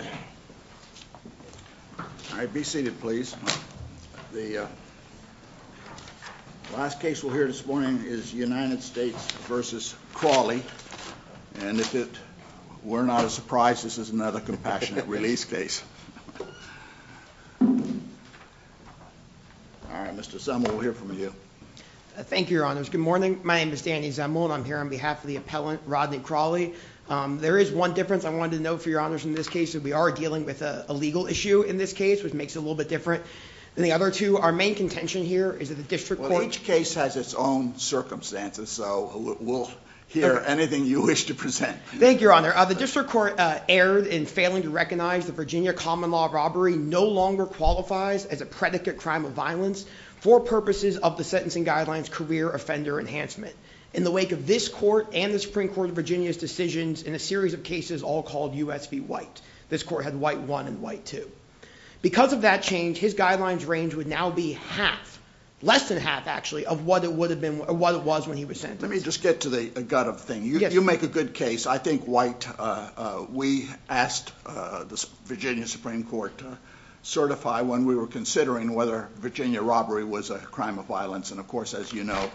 All right, be seated please. The last case we'll hear this morning is United States v. Crawley, and if it were not a surprise, this is another compassionate release case. All right, Mr. Zemel, we'll hear from you. Thank you, Your Honors. Good morning. My name is Danny Zemel and I'm here on behalf of the appellant Rodney Crawley. There is one difference I wanted to note for Your Honors in this case, we are dealing with a legal issue in this case, which makes it a little bit different than the other two. Our main contention here is that the district court... Well, each case has its own circumstances, so we'll hear anything you wish to present. Thank you, Your Honor. The district court erred in failing to recognize the Virginia common law robbery no longer qualifies as a predicate crime of violence for purposes of the sentencing guidelines career offender enhancement. In the wake of court and the Supreme Court of Virginia's decisions in a series of cases all called U.S. v. White. This court had White 1 and White 2. Because of that change, his guidelines range would now be half, less than half actually, of what it was when he was sentenced. Let me just get to the gut of the thing. You make a good case. I think White... We asked the Virginia Supreme Court to certify when we were considering whether Virginia robbery was a crime of violence. Of course, as you know,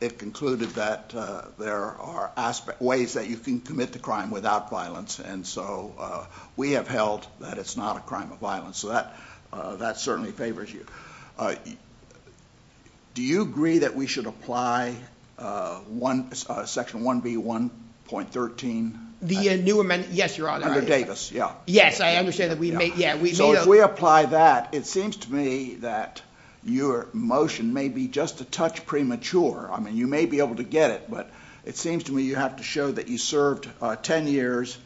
it concluded that there are ways that you can commit the crime without violence. We have held that it's not a crime of violence. That certainly favors you. Do you agree that we should apply Section 1B1.13? The new amendment, yes, Your Honor. Under Davis, yeah. Yes, I understand that we may... If we apply that, it seems to me that your motion may be just a touch premature. You may be able to get it, but it seems to me you have to show that you served 10 years.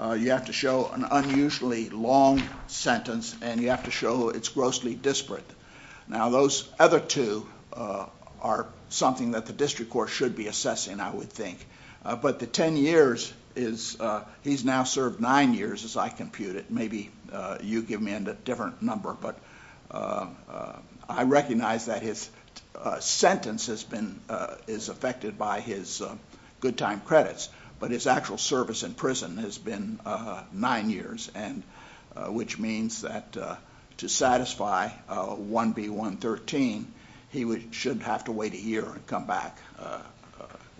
You have to show an unusually long sentence, and you have to show it's grossly disparate. Those other two are something that the district court should be assessing, I would think. The 10 years is... He's now served nine years, as I compute it. Maybe you give me a different number, but I recognize that his sentence is affected by his good time credits, but his actual service in prison has been nine years, which means that to satisfy 1B1.13, he should have to wait a year and come back.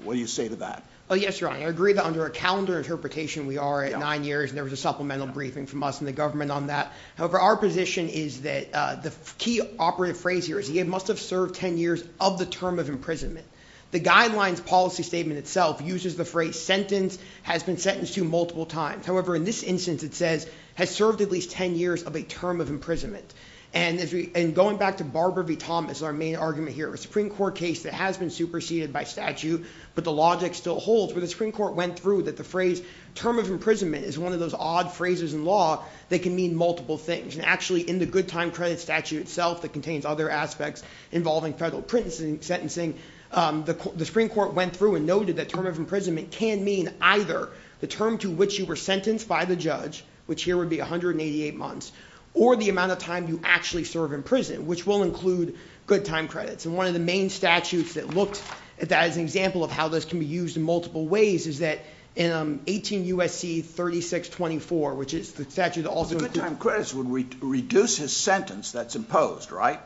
What do you say to that? Yes, Your Honor. I agree that under a calendar interpretation, we are at nine years, and there was a supplemental briefing from us and the government on that. However, our position is that the key operative phrase here is he must have served 10 years of the term of imprisonment. The guidelines policy statement itself uses the phrase sentence has been sentenced to multiple times. However, in this instance, it says has served at least 10 years of a term of imprisonment. Going back to Barbara V. Thomas, our main argument here, a Supreme Court case that has been superseded by statute, but the logic still holds. The Supreme Court went through that the phrase term of imprisonment is one of those odd phrases in law that can mean multiple things. Actually, in the good time credit statute itself that contains other aspects involving federal sentencing, the Supreme Court went through and noted that term of imprisonment can mean either the term to which you were sentenced by the judge, which here would be 188 months, or the amount of time you actually serve in prison, which will include good time credits. One of the main statutes that looked at that as an example of how this can be used in multiple ways is that in 18 U.S.C. 3624, which is the statute that also includes... The good time credits would reduce his sentence that's imposed, right?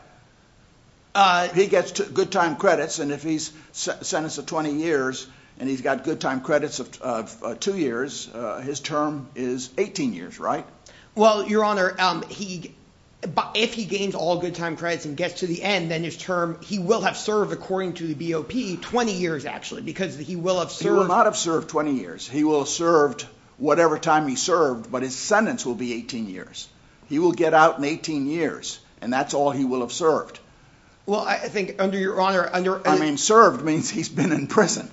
He gets good time credits, and if he's sentenced to 20 years, and he's got good time credits of two years, his term is 18 years, right? Well, Your Honor, if he gains all good time credits and gets to the end, then his term, he will have served according to the BOP 20 years, actually, because he will have served... He will not have served 20 years. He will have served whatever time he served, but his sentence will be 18 years. He will get out in 18 years, and that's all he will have served. Well, I think under Your Honor... I mean, served means he's been in prison.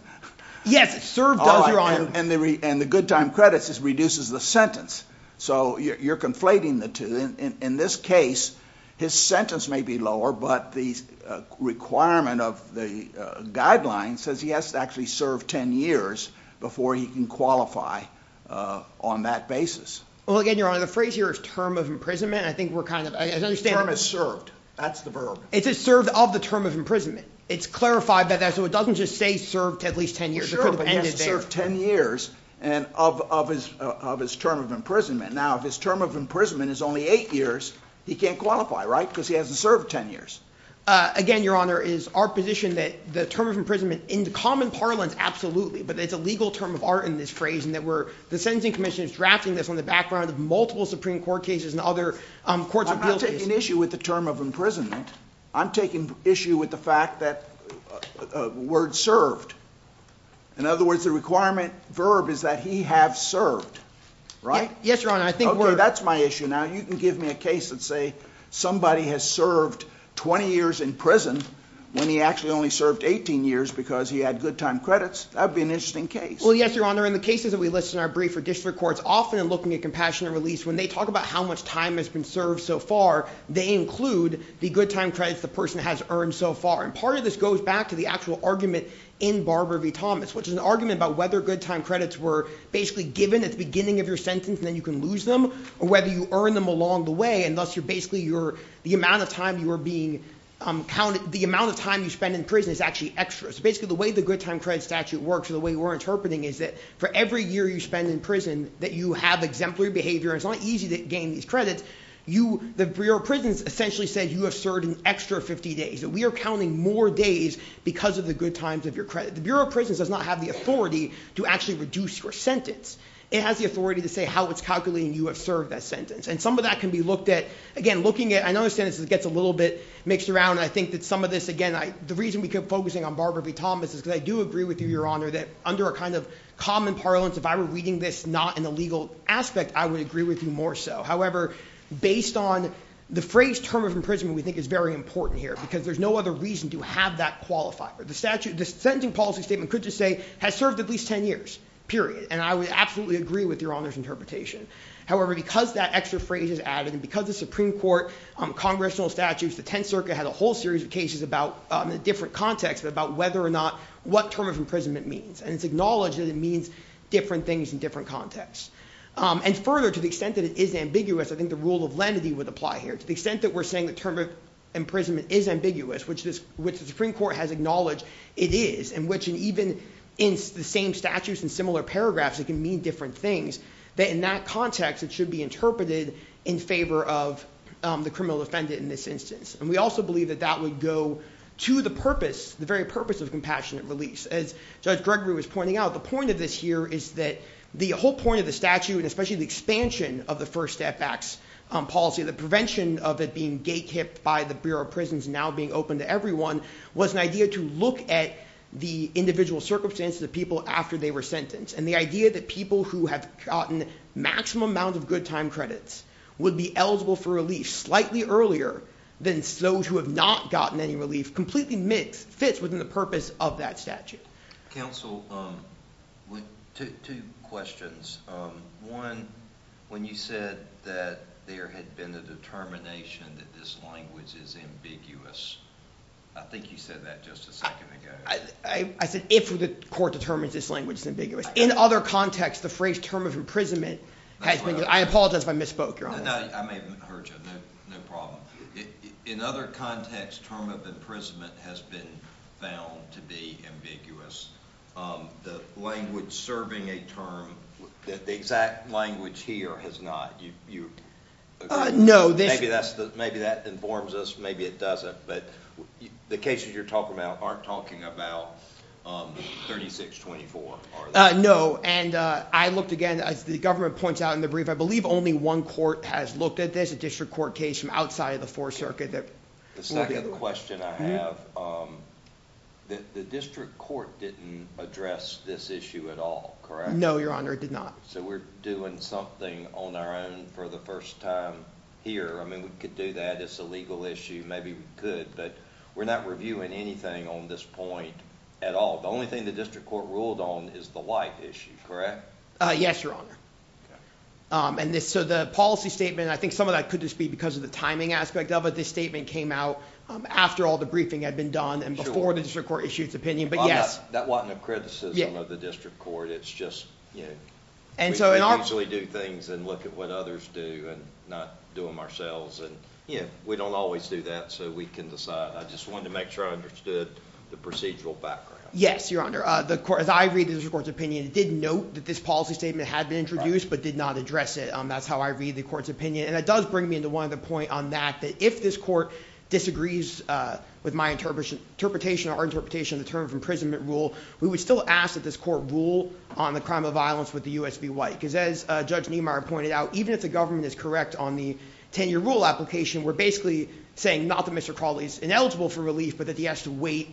Yes, served does, Your Honor... And the good time credits reduces the sentence, so you're conflating the two. In this case, his sentence may be lower, but the requirement of the guidelines says he has to actually serve 10 years before he can qualify on that basis. Well, again, Your Honor, the phrase here is term of imprisonment. I think we're kind of... The term is served. That's the verb. It's served of the term of imprisonment. It's clarified by that, so it doesn't just say served at least 10 years. Sure, but he has to serve 10 years of his term of imprisonment. Now, if his term of imprisonment is only 8 years, he can't qualify, right? Because he hasn't served 10 years. Again, Your Honor, is our position that the term of imprisonment in the common parlance, absolutely, but it's a legal term of art in this phrase, and that the Sentencing Commission is drafting this on the background of multiple Supreme Court cases and other courts of appeals cases? I'm not taking issue with the term of imprisonment. I'm taking issue with the fact that the word served. In other words, the requirement verb is that he have served, right? Yes, Your Honor, I think we're... Okay, that's my issue now. You can give me a case that say somebody has served 20 years in prison when he actually only served 18 years because he had good time credits. That would be an interesting case. Well, yes, Your Honor. In the cases that we list in our brief for district courts, often in looking at compassionate release, when they talk about how much time has been served so far, they include the good time credits the person has earned so far. And part of this goes back to the actual argument in Barbara v. Thomas, which is an argument about whether good time credits were basically given at the beginning of your sentence, and then you can lose them, or whether you earn them along the way, and thus you're basically... The amount of time you spend in prison is actually extra. So basically, the way the good time credit statute works, or the way we're interpreting it, is that for every year you spend in prison, that you have exemplary behavior, and it's not easy to gain these credits. Your prison essentially says you have served an extra 50 days, that we are counting more days because of the good times of your credit. The Bureau of Prisons does not have the authority to actually reduce your sentence. It has the authority to say how it's calculating you have served that sentence. And some of that can be looked at... Again, looking at... I know the sentence gets a little bit mixed around, and I think that some of this... Again, the reason we kept focusing on Barbara v. Thomas is because I do agree with you, Your Honor, that under a kind of common parlance, if I were reading this not in a legal aspect, I would agree with you more so. However, based on the phrase term of imprisonment, we think it's very important here, because there's no other reason to have that qualifier. The sentencing policy statement could just say, has served at least 10 years, period. And I would absolutely agree with Your Honor's interpretation. However, because that extra phrase is added, and because the Supreme Court, Congressional statutes, the Tenth Circuit had a whole series of cases about, in a different context, about whether or not... What term of imprisonment means. And it's acknowledged that it means different things in different contexts. And further, to the extent that it is ambiguous, I think the rule of lenity would apply here. To the extent that we're saying the term of imprisonment is ambiguous, which the Supreme Court has acknowledged it is, and which even in the same statutes and similar paragraphs, it can mean different things, that in that context, it should be interpreted in favor of the criminal defendant in this instance. And we also believe that that would go to the purpose, the very purpose of compassionate release. As Judge Gregory was pointing out, the point of this here is that the whole point of the statute, and especially the expansion of the First Step Act's policy, the prevention of it being gatekept by the Bureau of Prisons, now being open to everyone, was an idea to look at the individual circumstances of people after they were sentenced. And the idea that people who have gotten maximum amount of good time credits would be eligible for relief slightly earlier than those who have not gotten any relief, completely fits within the purpose of that statute. Counsel, two questions. One, when you said that there had been a determination that this language is ambiguous, I think you said that just a second ago. I said if the court determines this language is ambiguous. In other contexts, the phrase term of imprisonment has been, I apologize if I misspoke, Your Honor. No, I may have heard you, no problem. In other contexts, term of imprisonment has been found to be ambiguous. The language serving a term, the exact language here has not. No. Maybe that informs us, maybe it doesn't. But the cases you're talking about aren't talking about 3624, are they? No, and I looked again, as the government points out in the brief, I believe only one court has looked at this, a district court case from outside of the Fourth Circuit. The second question I have, the district court didn't address this issue at all, correct? No, Your Honor, it did not. So we're doing something on our own for the first time here, I mean we could do that, it's a legal issue, maybe we could, but we're not reviewing anything on this point at all. The only thing the district court ruled on is the life issue, correct? Yes, Your Honor. So the policy statement, I think some of that could just be because of the timing aspect of it, this statement came out after all the briefing had been done and before the district court issued its opinion, but yes. That wasn't a criticism of the district court, it's just, you know, we usually do things and look at what others do and not do them ourselves, and we don't always do that, so we can decide. I just wanted to make sure I understood the procedural background. Yes, Your Honor. As I read the district court's opinion, it did note that this policy statement had been introduced, but did not address it. That's how I read the court's point on that, that if this court disagrees with my interpretation or our interpretation of the term of imprisonment rule, we would still ask that this court rule on the crime of violence with the U.S. be white, because as Judge Niemeyer pointed out, even if the government is correct on the 10-year rule application, we're basically saying not that Mr. Crawley is ineligible for relief, but that he has to wait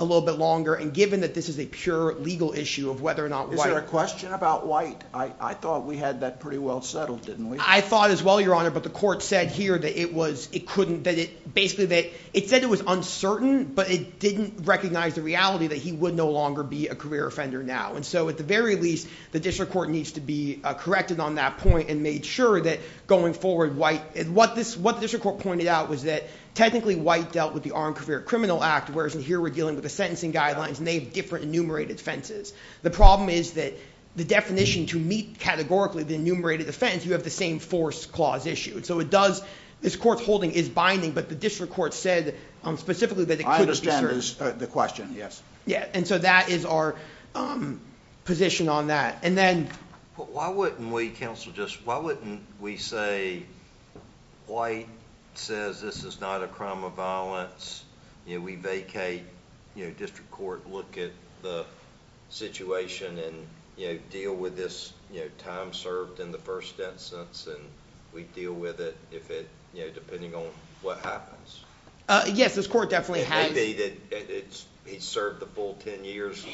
a little bit longer, and given that this is a pure legal issue of whether or not white... Is there a question about white? I thought we had that pretty well settled, didn't we? I thought as well, Your Honor, but the court said here that it couldn't... It said it was uncertain, but it didn't recognize the reality that he would no longer be a career offender now. So at the very least, the district court needs to be corrected on that point and made sure that going forward, what the district court pointed out was that technically white dealt with the Armed Career Criminal Act, whereas here we're dealing with the sentencing guidelines, and they have different enumerated offenses. The problem is that the definition to meet categorically the enumerated offense, you have the same force clause issue. So it does... This court's holding is binding, but the district court said specifically that it couldn't... I understand the question, yes. Yeah, and so that is our position on that. And then... Why wouldn't we, counsel, just... Why wouldn't we say white says this is not a crime of violence. We vacate... District court look at the situation and deal with this time served in the first instance, and we deal with it depending on what happens. Yes, this court definitely has... It may be that he's served the full ten years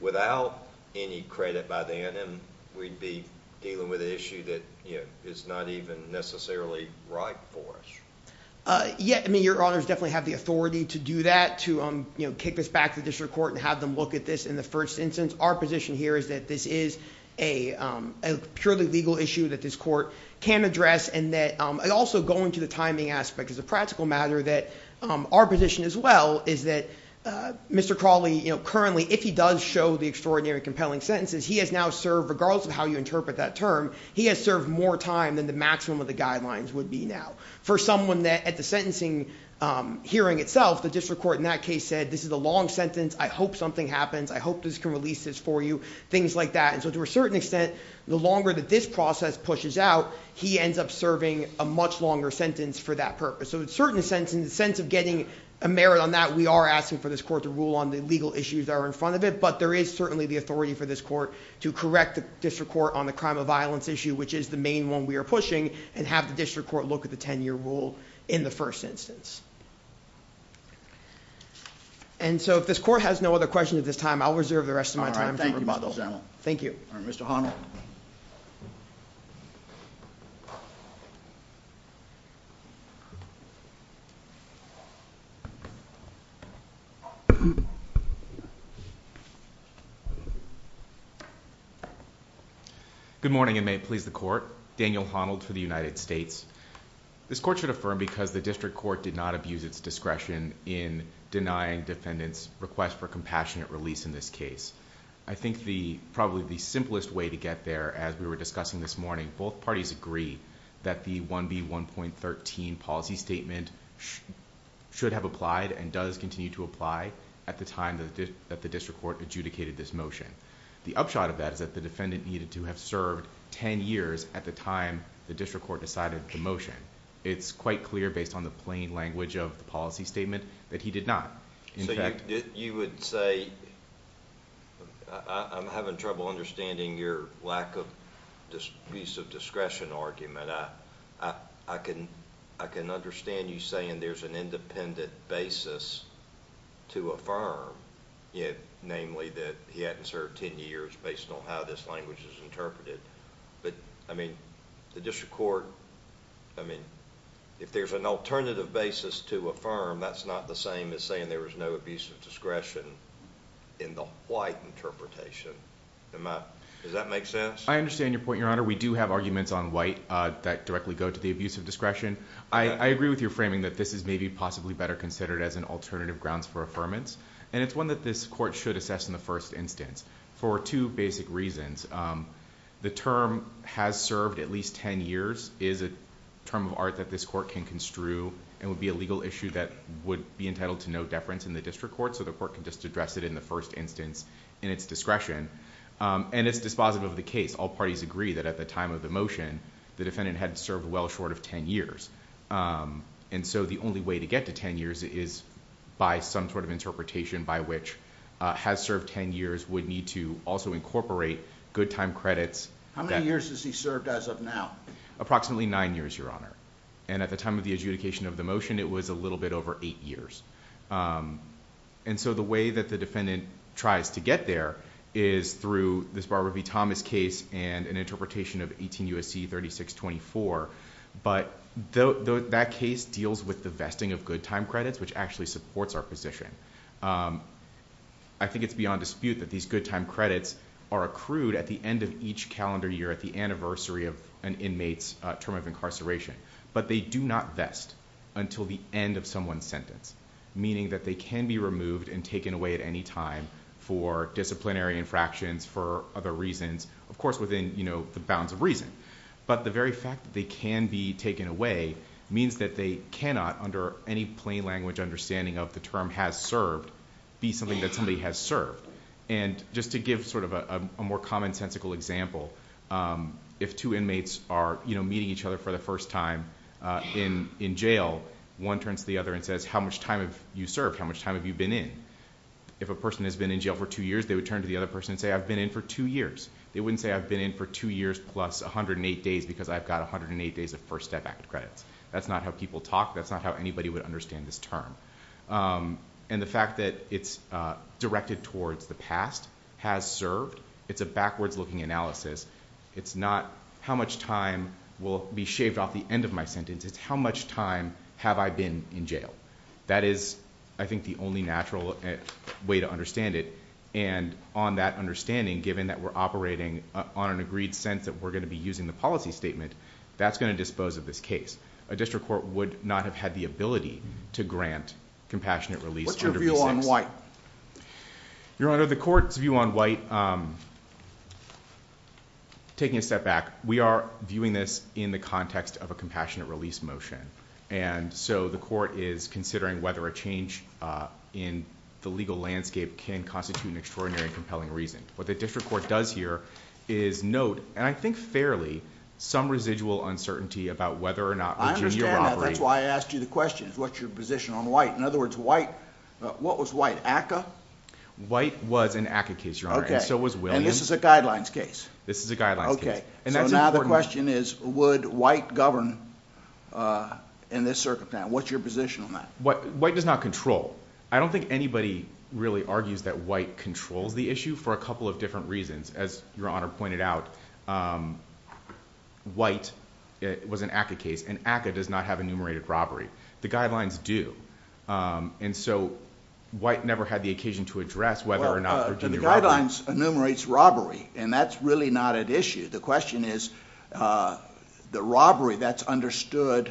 without any credit by then, and we'd be dealing with an issue that is not even necessarily right for us. Yeah, your honors definitely have the authority to do that, to kick this back to the district court and have them look at this in the first instance. Our position here is that this is a purely legal issue that this court can address, and also going to the timing aspect as a practical matter, that our position as well is that Mr. Crawley, currently, if he does show the extraordinary compelling sentences, he has now served, regardless of how you interpret that term, he has served more time than the maximum of the guidelines would be now. For someone that at the sentencing hearing itself, the district court in that case said this is a long sentence, I hope something happens, I hope this can release this for you, things like that. So to a certain extent, the longer that this process pushes out, he ends up serving a much longer sentence for that purpose. So in a certain sense, in the sense of getting a merit on that, we are asking for this court to rule on the legal issues that are in front of it, but there is certainly the authority for this court to correct the district court on the crime of violence issue, which is the main one we are pushing, and have the district court look at the ten year rule in the first instance. And so if this court has no other questions at this time, I will reserve the rest of my time for rebuttal. Thank you. Good morning and may it please the court. Daniel Honnold for the United States. This court should affirm because the district court did not abuse its discretion in denying defendant's request for compassionate release in this case. I think probably the simplest way to get there as we were discussing this morning, both parties agree that the 1B1.13 policy statement should have applied and does continue to apply at the time that the district court adjudicated this motion. The upshot of that is that the defendant needed to have served ten years at the time the district court decided the motion. It's quite clear based on the plain language of the policy statement that he did not. You would say... I'm having trouble understanding your lack of use of discretion argument. I can understand you saying there's an independent basis to affirm namely that he hadn't served ten years based on how this language is interpreted. The district court... if there's an alternative basis to affirm, that's not the same as saying there was no abuse of discretion in the white interpretation. Does that make sense? I understand your point, Your Honor. We do have arguments on white that directly go to the abuse of discretion. I agree with your framing that this is maybe possibly better considered as an alternative grounds for affirmance. It's one that this court should assess in the first instance for two basic reasons. The term has served at least ten years is a term of art that this court can construe and would be a legal issue that would be entitled to no deference in the district court so the court can just address it in the first instance in its discretion. It's dispositive of the case. All parties agree that at the time of the motion the defendant had served well short of ten years. The only way to get to ten years is by some sort of interpretation by which the defendant has served ten years would need to also incorporate good time credits. How many years has he served as of now? Approximately nine years, Your Honor. At the time of the adjudication of the motion it was a little bit over eight years. The way that the defendant tries to get there is through this Barbara V. Thomas case and an interpretation of 18 U.S.C. 3624, but that case deals with the vesting of good time credits which actually supports our position. I think it's beyond dispute that these good time credits are accrued at the end of each calendar year at the anniversary of an inmate's term of incarceration, but they do not vest until the end of someone's sentence, meaning that they can be removed and taken away at any time for disciplinary infractions, for other reasons, of course within the bounds of reason, but the very fact that they can be taken away means that they cannot under any plain language understanding of the term has served be something that somebody has served. Just to give sort of a more commonsensical example, if two inmates are meeting each other for the first time in jail, one turns to the other and says, how much time have you served? How much time have you been in? If a person has been in jail for two years, they would turn to the other person and say, I've been in for two years. They wouldn't say, I've been in for two years plus 108 days because I've got 108 days of First Step Act credits. That's not how people talk. That's not how anybody would understand this term. The fact that it's directed towards the past has served. It's a backwards looking analysis. It's not how much time will be shaved off the end of my sentence. It's how much time have I been in jail? That is, I think, the only natural way to understand it. On that understanding, given that we're operating on an agreed sense that we're going to be using the policy statement, that's going to expose this case. A district court would not have had the ability to grant compassionate release under P6. Your Honor, the court's view on White, taking a step back, we are viewing this in the context of a compassionate release motion. The court is considering whether a change in the legal landscape can constitute an extraordinary and compelling reason. What the district court does here is note, and I think fairly, some residual uncertainty about whether or not Virginia will operate. I understand that. That's why I asked you the question. What's your position on White? In other words, what was White? ACCA? White was an ACCA case, Your Honor, and so was Williams. This is a guidelines case? This is a guidelines case. Now the question is, would White govern in this circumstance? What's your position on that? White does not control. I don't think anybody really argues that White controls the issue for a couple of different reasons. As Your Honor pointed out, White was an ACCA case, and ACCA does not have enumerated robbery. The guidelines do, and so White never had the occasion to address whether or not Virginia... The guidelines enumerates robbery, and that's really not at issue. The question is, the robbery that's understood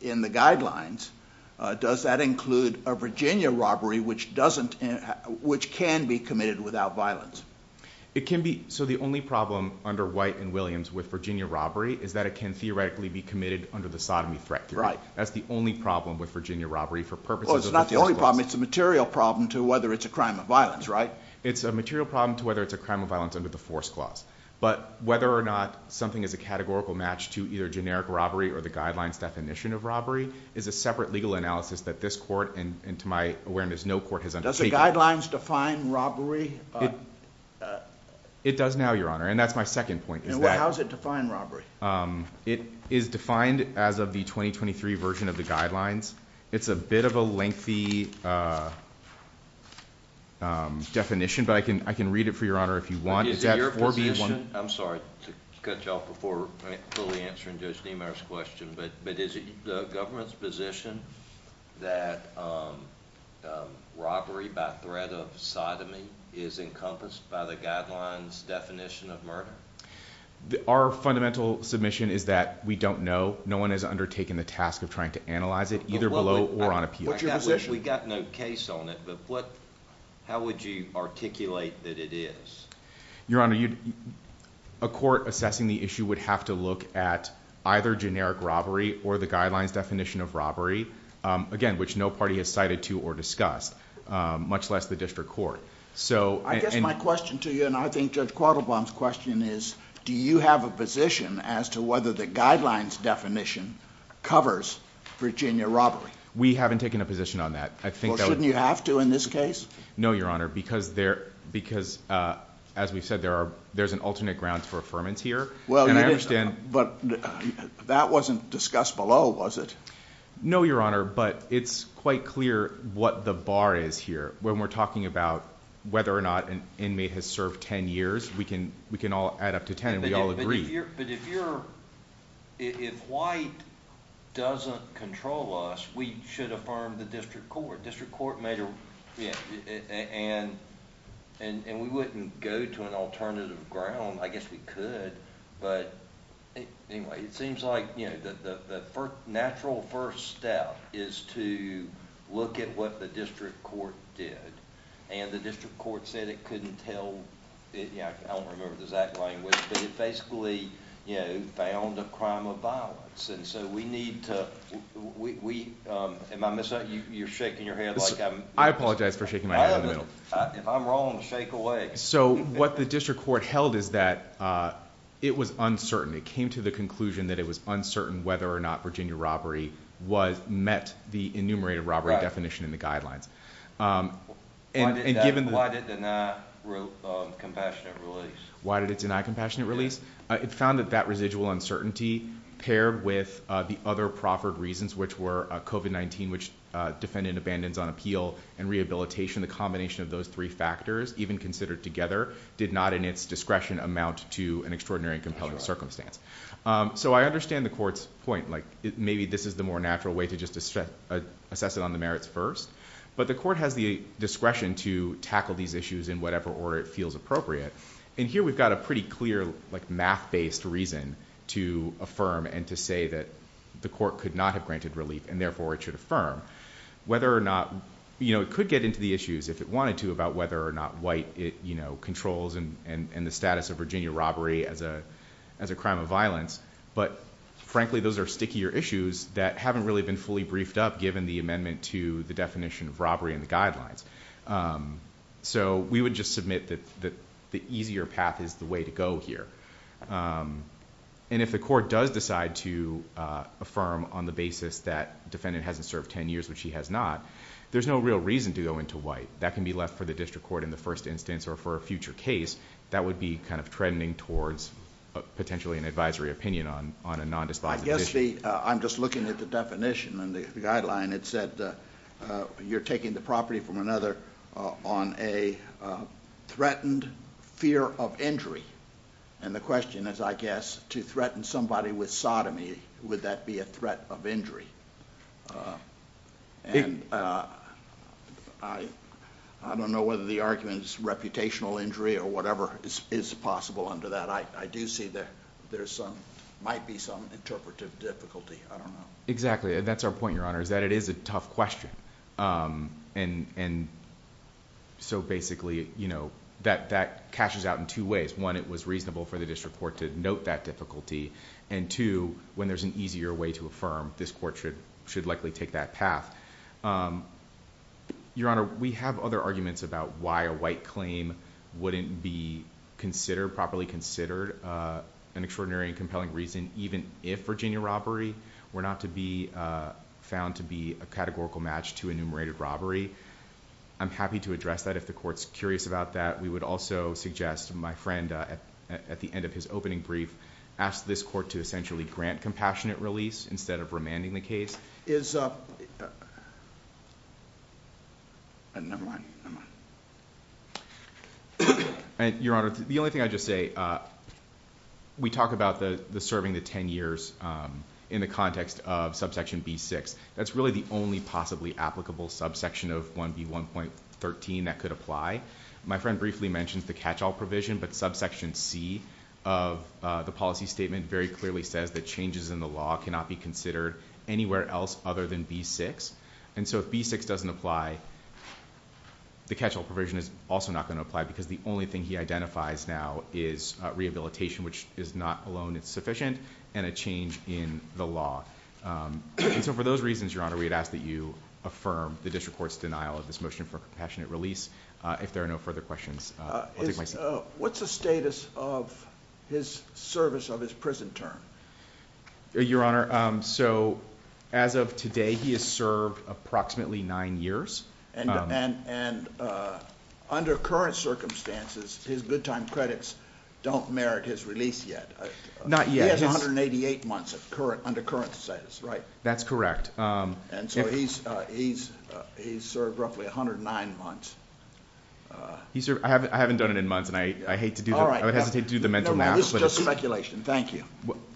in the guidelines, does that include a Virginia robbery which can be committed without violence? So the only problem under White and Williams with Virginia robbery is that it can theoretically be committed under the sodomy threat theory. That's the only problem with Virginia robbery for purposes of the Force Clause. It's a material problem to whether it's a crime of violence, right? It's a material problem to whether it's a crime of violence under the Force Clause, but whether or not something is a categorical match to either generic robbery or the guidelines definition of robbery is a separate legal analysis that this Court, and to my awareness, no Court has undertaken. Does the guidelines define robbery? It does now, Your Honor, and that's my second point. How does it define robbery? It is defined as of the 2023 version of the guidelines. It's a bit of a lengthy definition, but I can read it for Your Honor if you want. I'm sorry to cut you off before fully answering Judge Niemeyer's question, but is the government's position that robbery by threat of sodomy is encompassed by the guidelines definition of murder? Our fundamental submission is that we don't know. No one has undertaken the task of trying to analyze it, either below or on appeal. We've got no case on it, but how would you articulate that it is? Your Honor, a court assessing the issue would have to look at either generic robbery or the guidelines definition of robbery, again, which no party has cited to or discussed, much less the district court. I guess my question to you, and I think Judge Quattlebaum's question is, do you have a position as to whether the guidelines definition covers Virginia robbery? We haven't taken a position on that. Well, shouldn't you have to in this case? No, Your Honor, because as we've said, there's an alternate ground for affirmance here, and I understand... But that wasn't discussed below, was it? No, Your Honor, but it's quite clear what the bar is here. When we're talking about whether or not an inmate has served ten years, we can all add up to ten, and we all agree. But if you're... if White doesn't control us, we should affirm the district court. District court may... and we wouldn't go to an alternative ground. I guess we could, but anyway, it seems like the natural first step is to look at what the district court did, and the district court said it couldn't tell... I don't remember the exact language, but it basically found a crime of violence, and so we need to... You're shaking your head like I'm... I apologize for shaking my head in the middle. If I'm wrong, shake away. What the district court held is that it was uncertain. It came to the conclusion that it was uncertain whether or not Virginia robbery was... met the enumerated robbery definition in the guidelines. Why did it deny compassionate release? Why did it deny compassionate release? It found that that residual uncertainty, paired with the other proffered reasons, which were COVID-19, which defendant abandons on appeal, and rehabilitation, the combination of those three factors, even considered together, did not in its discretion amount to an extraordinary and compelling circumstance. I understand the court's point. Maybe this is the more natural way to just assess it on the merits first, but the court has the discretion to tackle these issues in whatever order it feels appropriate, and here we've got a pretty clear math-based reason to affirm and to say that the court could not have granted relief, and therefore it should affirm whether or not... it could get into the issues if it wanted to about whether or not white controls and the status of Virginia robbery as a crime of violence, but frankly those are stickier issues that haven't really been fully briefed up given the amendment to the definition of robbery in the guidelines. We would just submit that the easier path is the way to go here. If the court does decide to affirm on the basis that defendant hasn't served ten years, which he has not, there's no real reason to go into white, that can be left for the district court in the first instance or for a future case that would be kind of trending towards potentially an advisory opinion on a non-dispositive issue. I'm just looking at the definition and the guideline. It said you're taking the property from another on a threatened fear of injury, and the question is I guess to threaten somebody with sodomy, would that be a threat of injury? I don't know whether the argument is reputational injury or whatever is possible under that. I do see that there might be some interpretive difficulty. I don't know. Exactly. That's our point, Your Honor, is that it is a tough question. Basically, that cashes out in two ways. One, it was reasonable for the district court to note that it was a threat of injury, and two, when there's an easier way to affirm, this court should likely take that path. Your Honor, we have other arguments about why a white claim wouldn't be properly considered an extraordinary and compelling reason, even if Virginia robbery were not to be found to be a categorical match to enumerated robbery. I'm happy to address that if the court's curious about that. We would also suggest my friend at the district court to essentially grant compassionate release instead of remanding the case. Never mind. Your Honor, the only thing I'd just say, we talk about the serving the ten years in the context of subsection B6. That's really the only possibly applicable subsection of 1B1.13 that could apply. My friend briefly mentioned the catch-all provision, but subsection C of the policy statement very clearly says that changes in the law cannot be considered anywhere else other than B6. If B6 doesn't apply, the catch-all provision is also not going to apply because the only thing he identifies now is rehabilitation, which is not alone insufficient, and a change in the law. For those reasons, Your Honor, we'd ask that you affirm the district court's denial of this motion for compassionate release. If there are no further questions, I'll take my seat. What's the status of his service of his prison term? Your Honor, as of today he has served approximately nine years. Under current circumstances, his good time credits don't merit his release yet. He has 188 months under current status, right? That's correct. He's served roughly 109 months. I haven't done it in months, and I would hesitate to do the mental math. This is just speculation. Thank you.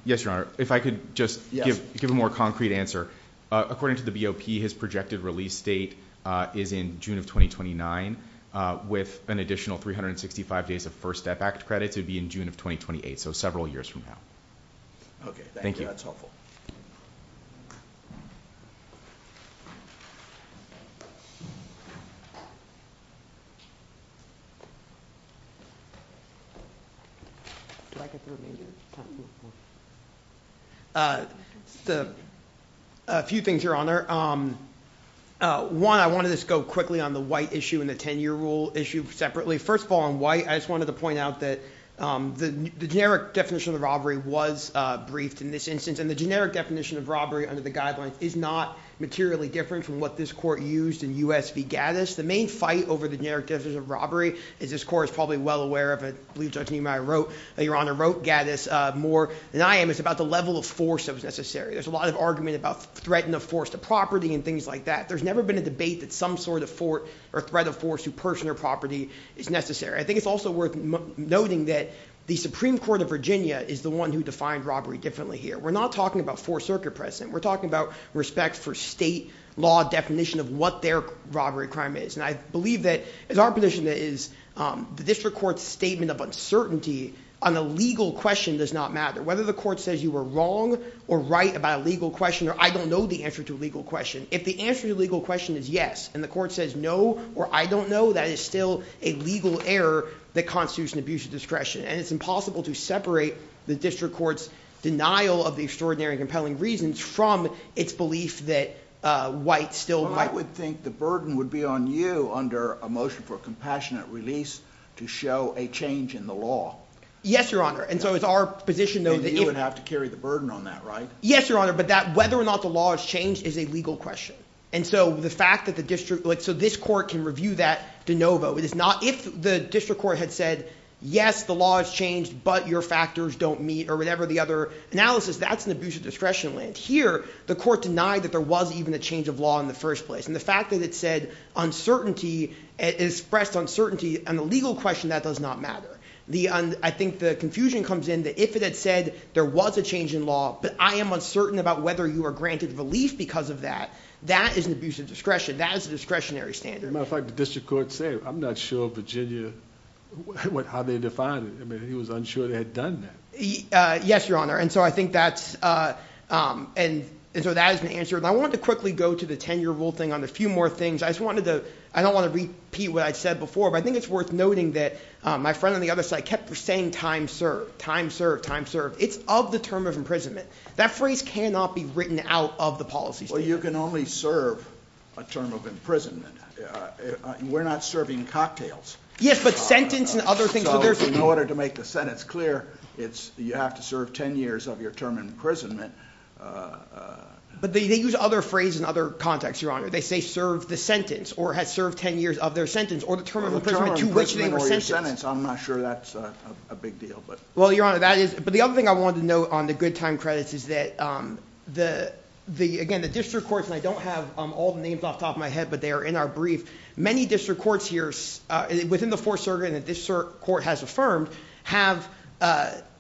If I could just give a more concrete answer. According to the BOP, his projected release date is in June of 2029 with an additional 365 days of First Step Act credits. It would be in June of 2028, so several years from now. Thank you. Do I get the remainder of the time? A few things, Your Honor. One, I wanted to just go quickly on the White issue and the 10-year rule issue separately. First of all, on White, I just wanted to point out that the generic definition of robbery was briefed in this instance, and the generic definition of robbery under the guidelines is not materially different from what this court used in U.S. v. Gaddis. The main fight over the generic definition of robbery, as this court is probably well aware of, and I believe Judge Niemeyer wrote, Your Honor, wrote Gaddis more than I am, is about the level of force that was necessary. There's a lot of argument about threat of force to property and things like that. There's never been a debate that some sort of threat of force to personal property is necessary. I think it's also worth noting that the Supreme Court of Virginia is the one who defined robbery differently here. We're not talking about fourth circuit precedent. We're talking about respect for state law definition of what their robbery crime is. And I believe that as our position is, the district court's statement of uncertainty on a legal question does not matter. Whether the court says you were wrong or right about a legal question, or I don't know the answer to a legal question, if the answer to a legal question is yes, and the court says no or I don't know, that is still a legal error that constitutes an abuse of discretion. And it's impossible to separate the district court's denial of the extraordinary and compelling reasons from its belief that whites still... I would think the burden would be on you under a motion for a compassionate release to show a change in the law. Yes, Your Honor. And so it's our position though... And you would have to carry the burden on that, right? Yes, Your Honor, but whether or not the law has changed is a legal question. And so the fact that the district... so this court can review that de novo. If the district court had said yes, the law has changed, but your factors don't meet, or whatever the other analysis, that's an abuse of discretion. Here, the court denied that there was even a change of law in the first place. And the fact that it said uncertainty and expressed uncertainty on a legal question, that does not matter. I think the confusion comes in that if it had said there was a change in law, but I am uncertain about whether you are granted relief because of that, that is an abuse of discretion. That is a discretionary standard. As a matter of fact, the district court said, I'm not sure Virginia... how they defined it. I mean, he was unsure they had done that. Yes, Your Honor, and so I think that's... and so that is an answer. And I wanted to quickly go to the 10-year rule thing on a few more things. I just wanted to... I don't want to repeat what I said before, but I think it's worth noting that my friend on the other side kept saying time served, time served, time served. It's of the term of imprisonment. That phrase cannot be written out of the policy statement. Well, you can only serve a term of imprisonment. We're not serving cocktails. Yes, but sentence and other things. In order to make the sentence clear, you have to serve 10 years of your term of imprisonment. But they use other phrases in other contexts, Your Honor. They say served the sentence or has served 10 years of their sentence or the term of imprisonment to which they were sentenced. I'm not sure that's a big deal. Well, Your Honor, that is... but the other thing I wanted to note on the good time credits is that, again, the district courts, and I don't have all the names off the top of my head, but they are in our brief. Many district courts here within the fourth circuit that this court has affirmed have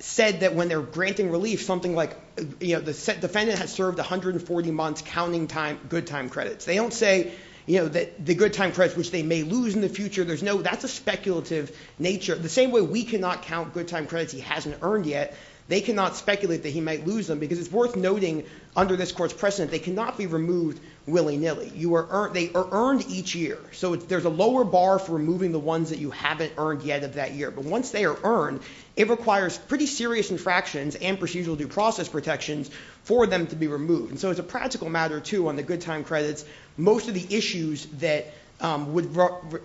said that when they're granting relief, something like defendant has served 140 months counting good time credits. They don't say the good time credits which they may lose in the future. That's a speculative nature. The same way we cannot count good time credits he hasn't earned yet, they cannot speculate that he might lose them because it's worth noting under this court's precedent, they cannot be removed willy-nilly. They are earned each year. So there's a lower bar for removing the ones that you haven't earned yet of that year. But once they are earned, it requires pretty serious infractions and procedural due process protections for them to be removed. So it's a practical matter, too, on the good time credits. Most of the issues that would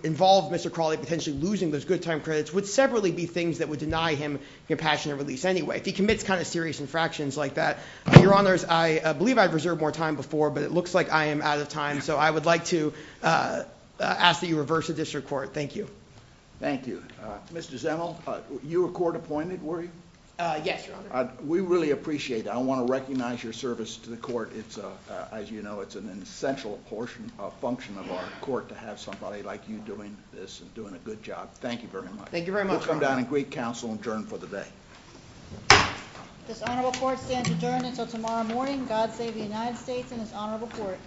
involve Mr. Crawley potentially losing those good time credits would separately be things that would deny him compassionate release anyway. If he commits kind of serious infractions like that, Your Honors, I believe I've reserved more time before, but it looks like I am out of time. So I would like to ask that you reverse the district court. Thank you. Thank you. Mr. Zimmel, you were court appointed, were you? Yes, Your Honor. We really appreciate that. I want to recognize your service to the court. As you know, it's an essential function of our court to have somebody like you doing this and doing a good job. Thank you very much. Thank you very much, Your Honor. We'll come down and greet counsel and adjourn for the day. This honorable court stands adjourned until tomorrow morning. God save the United States and this honorable court.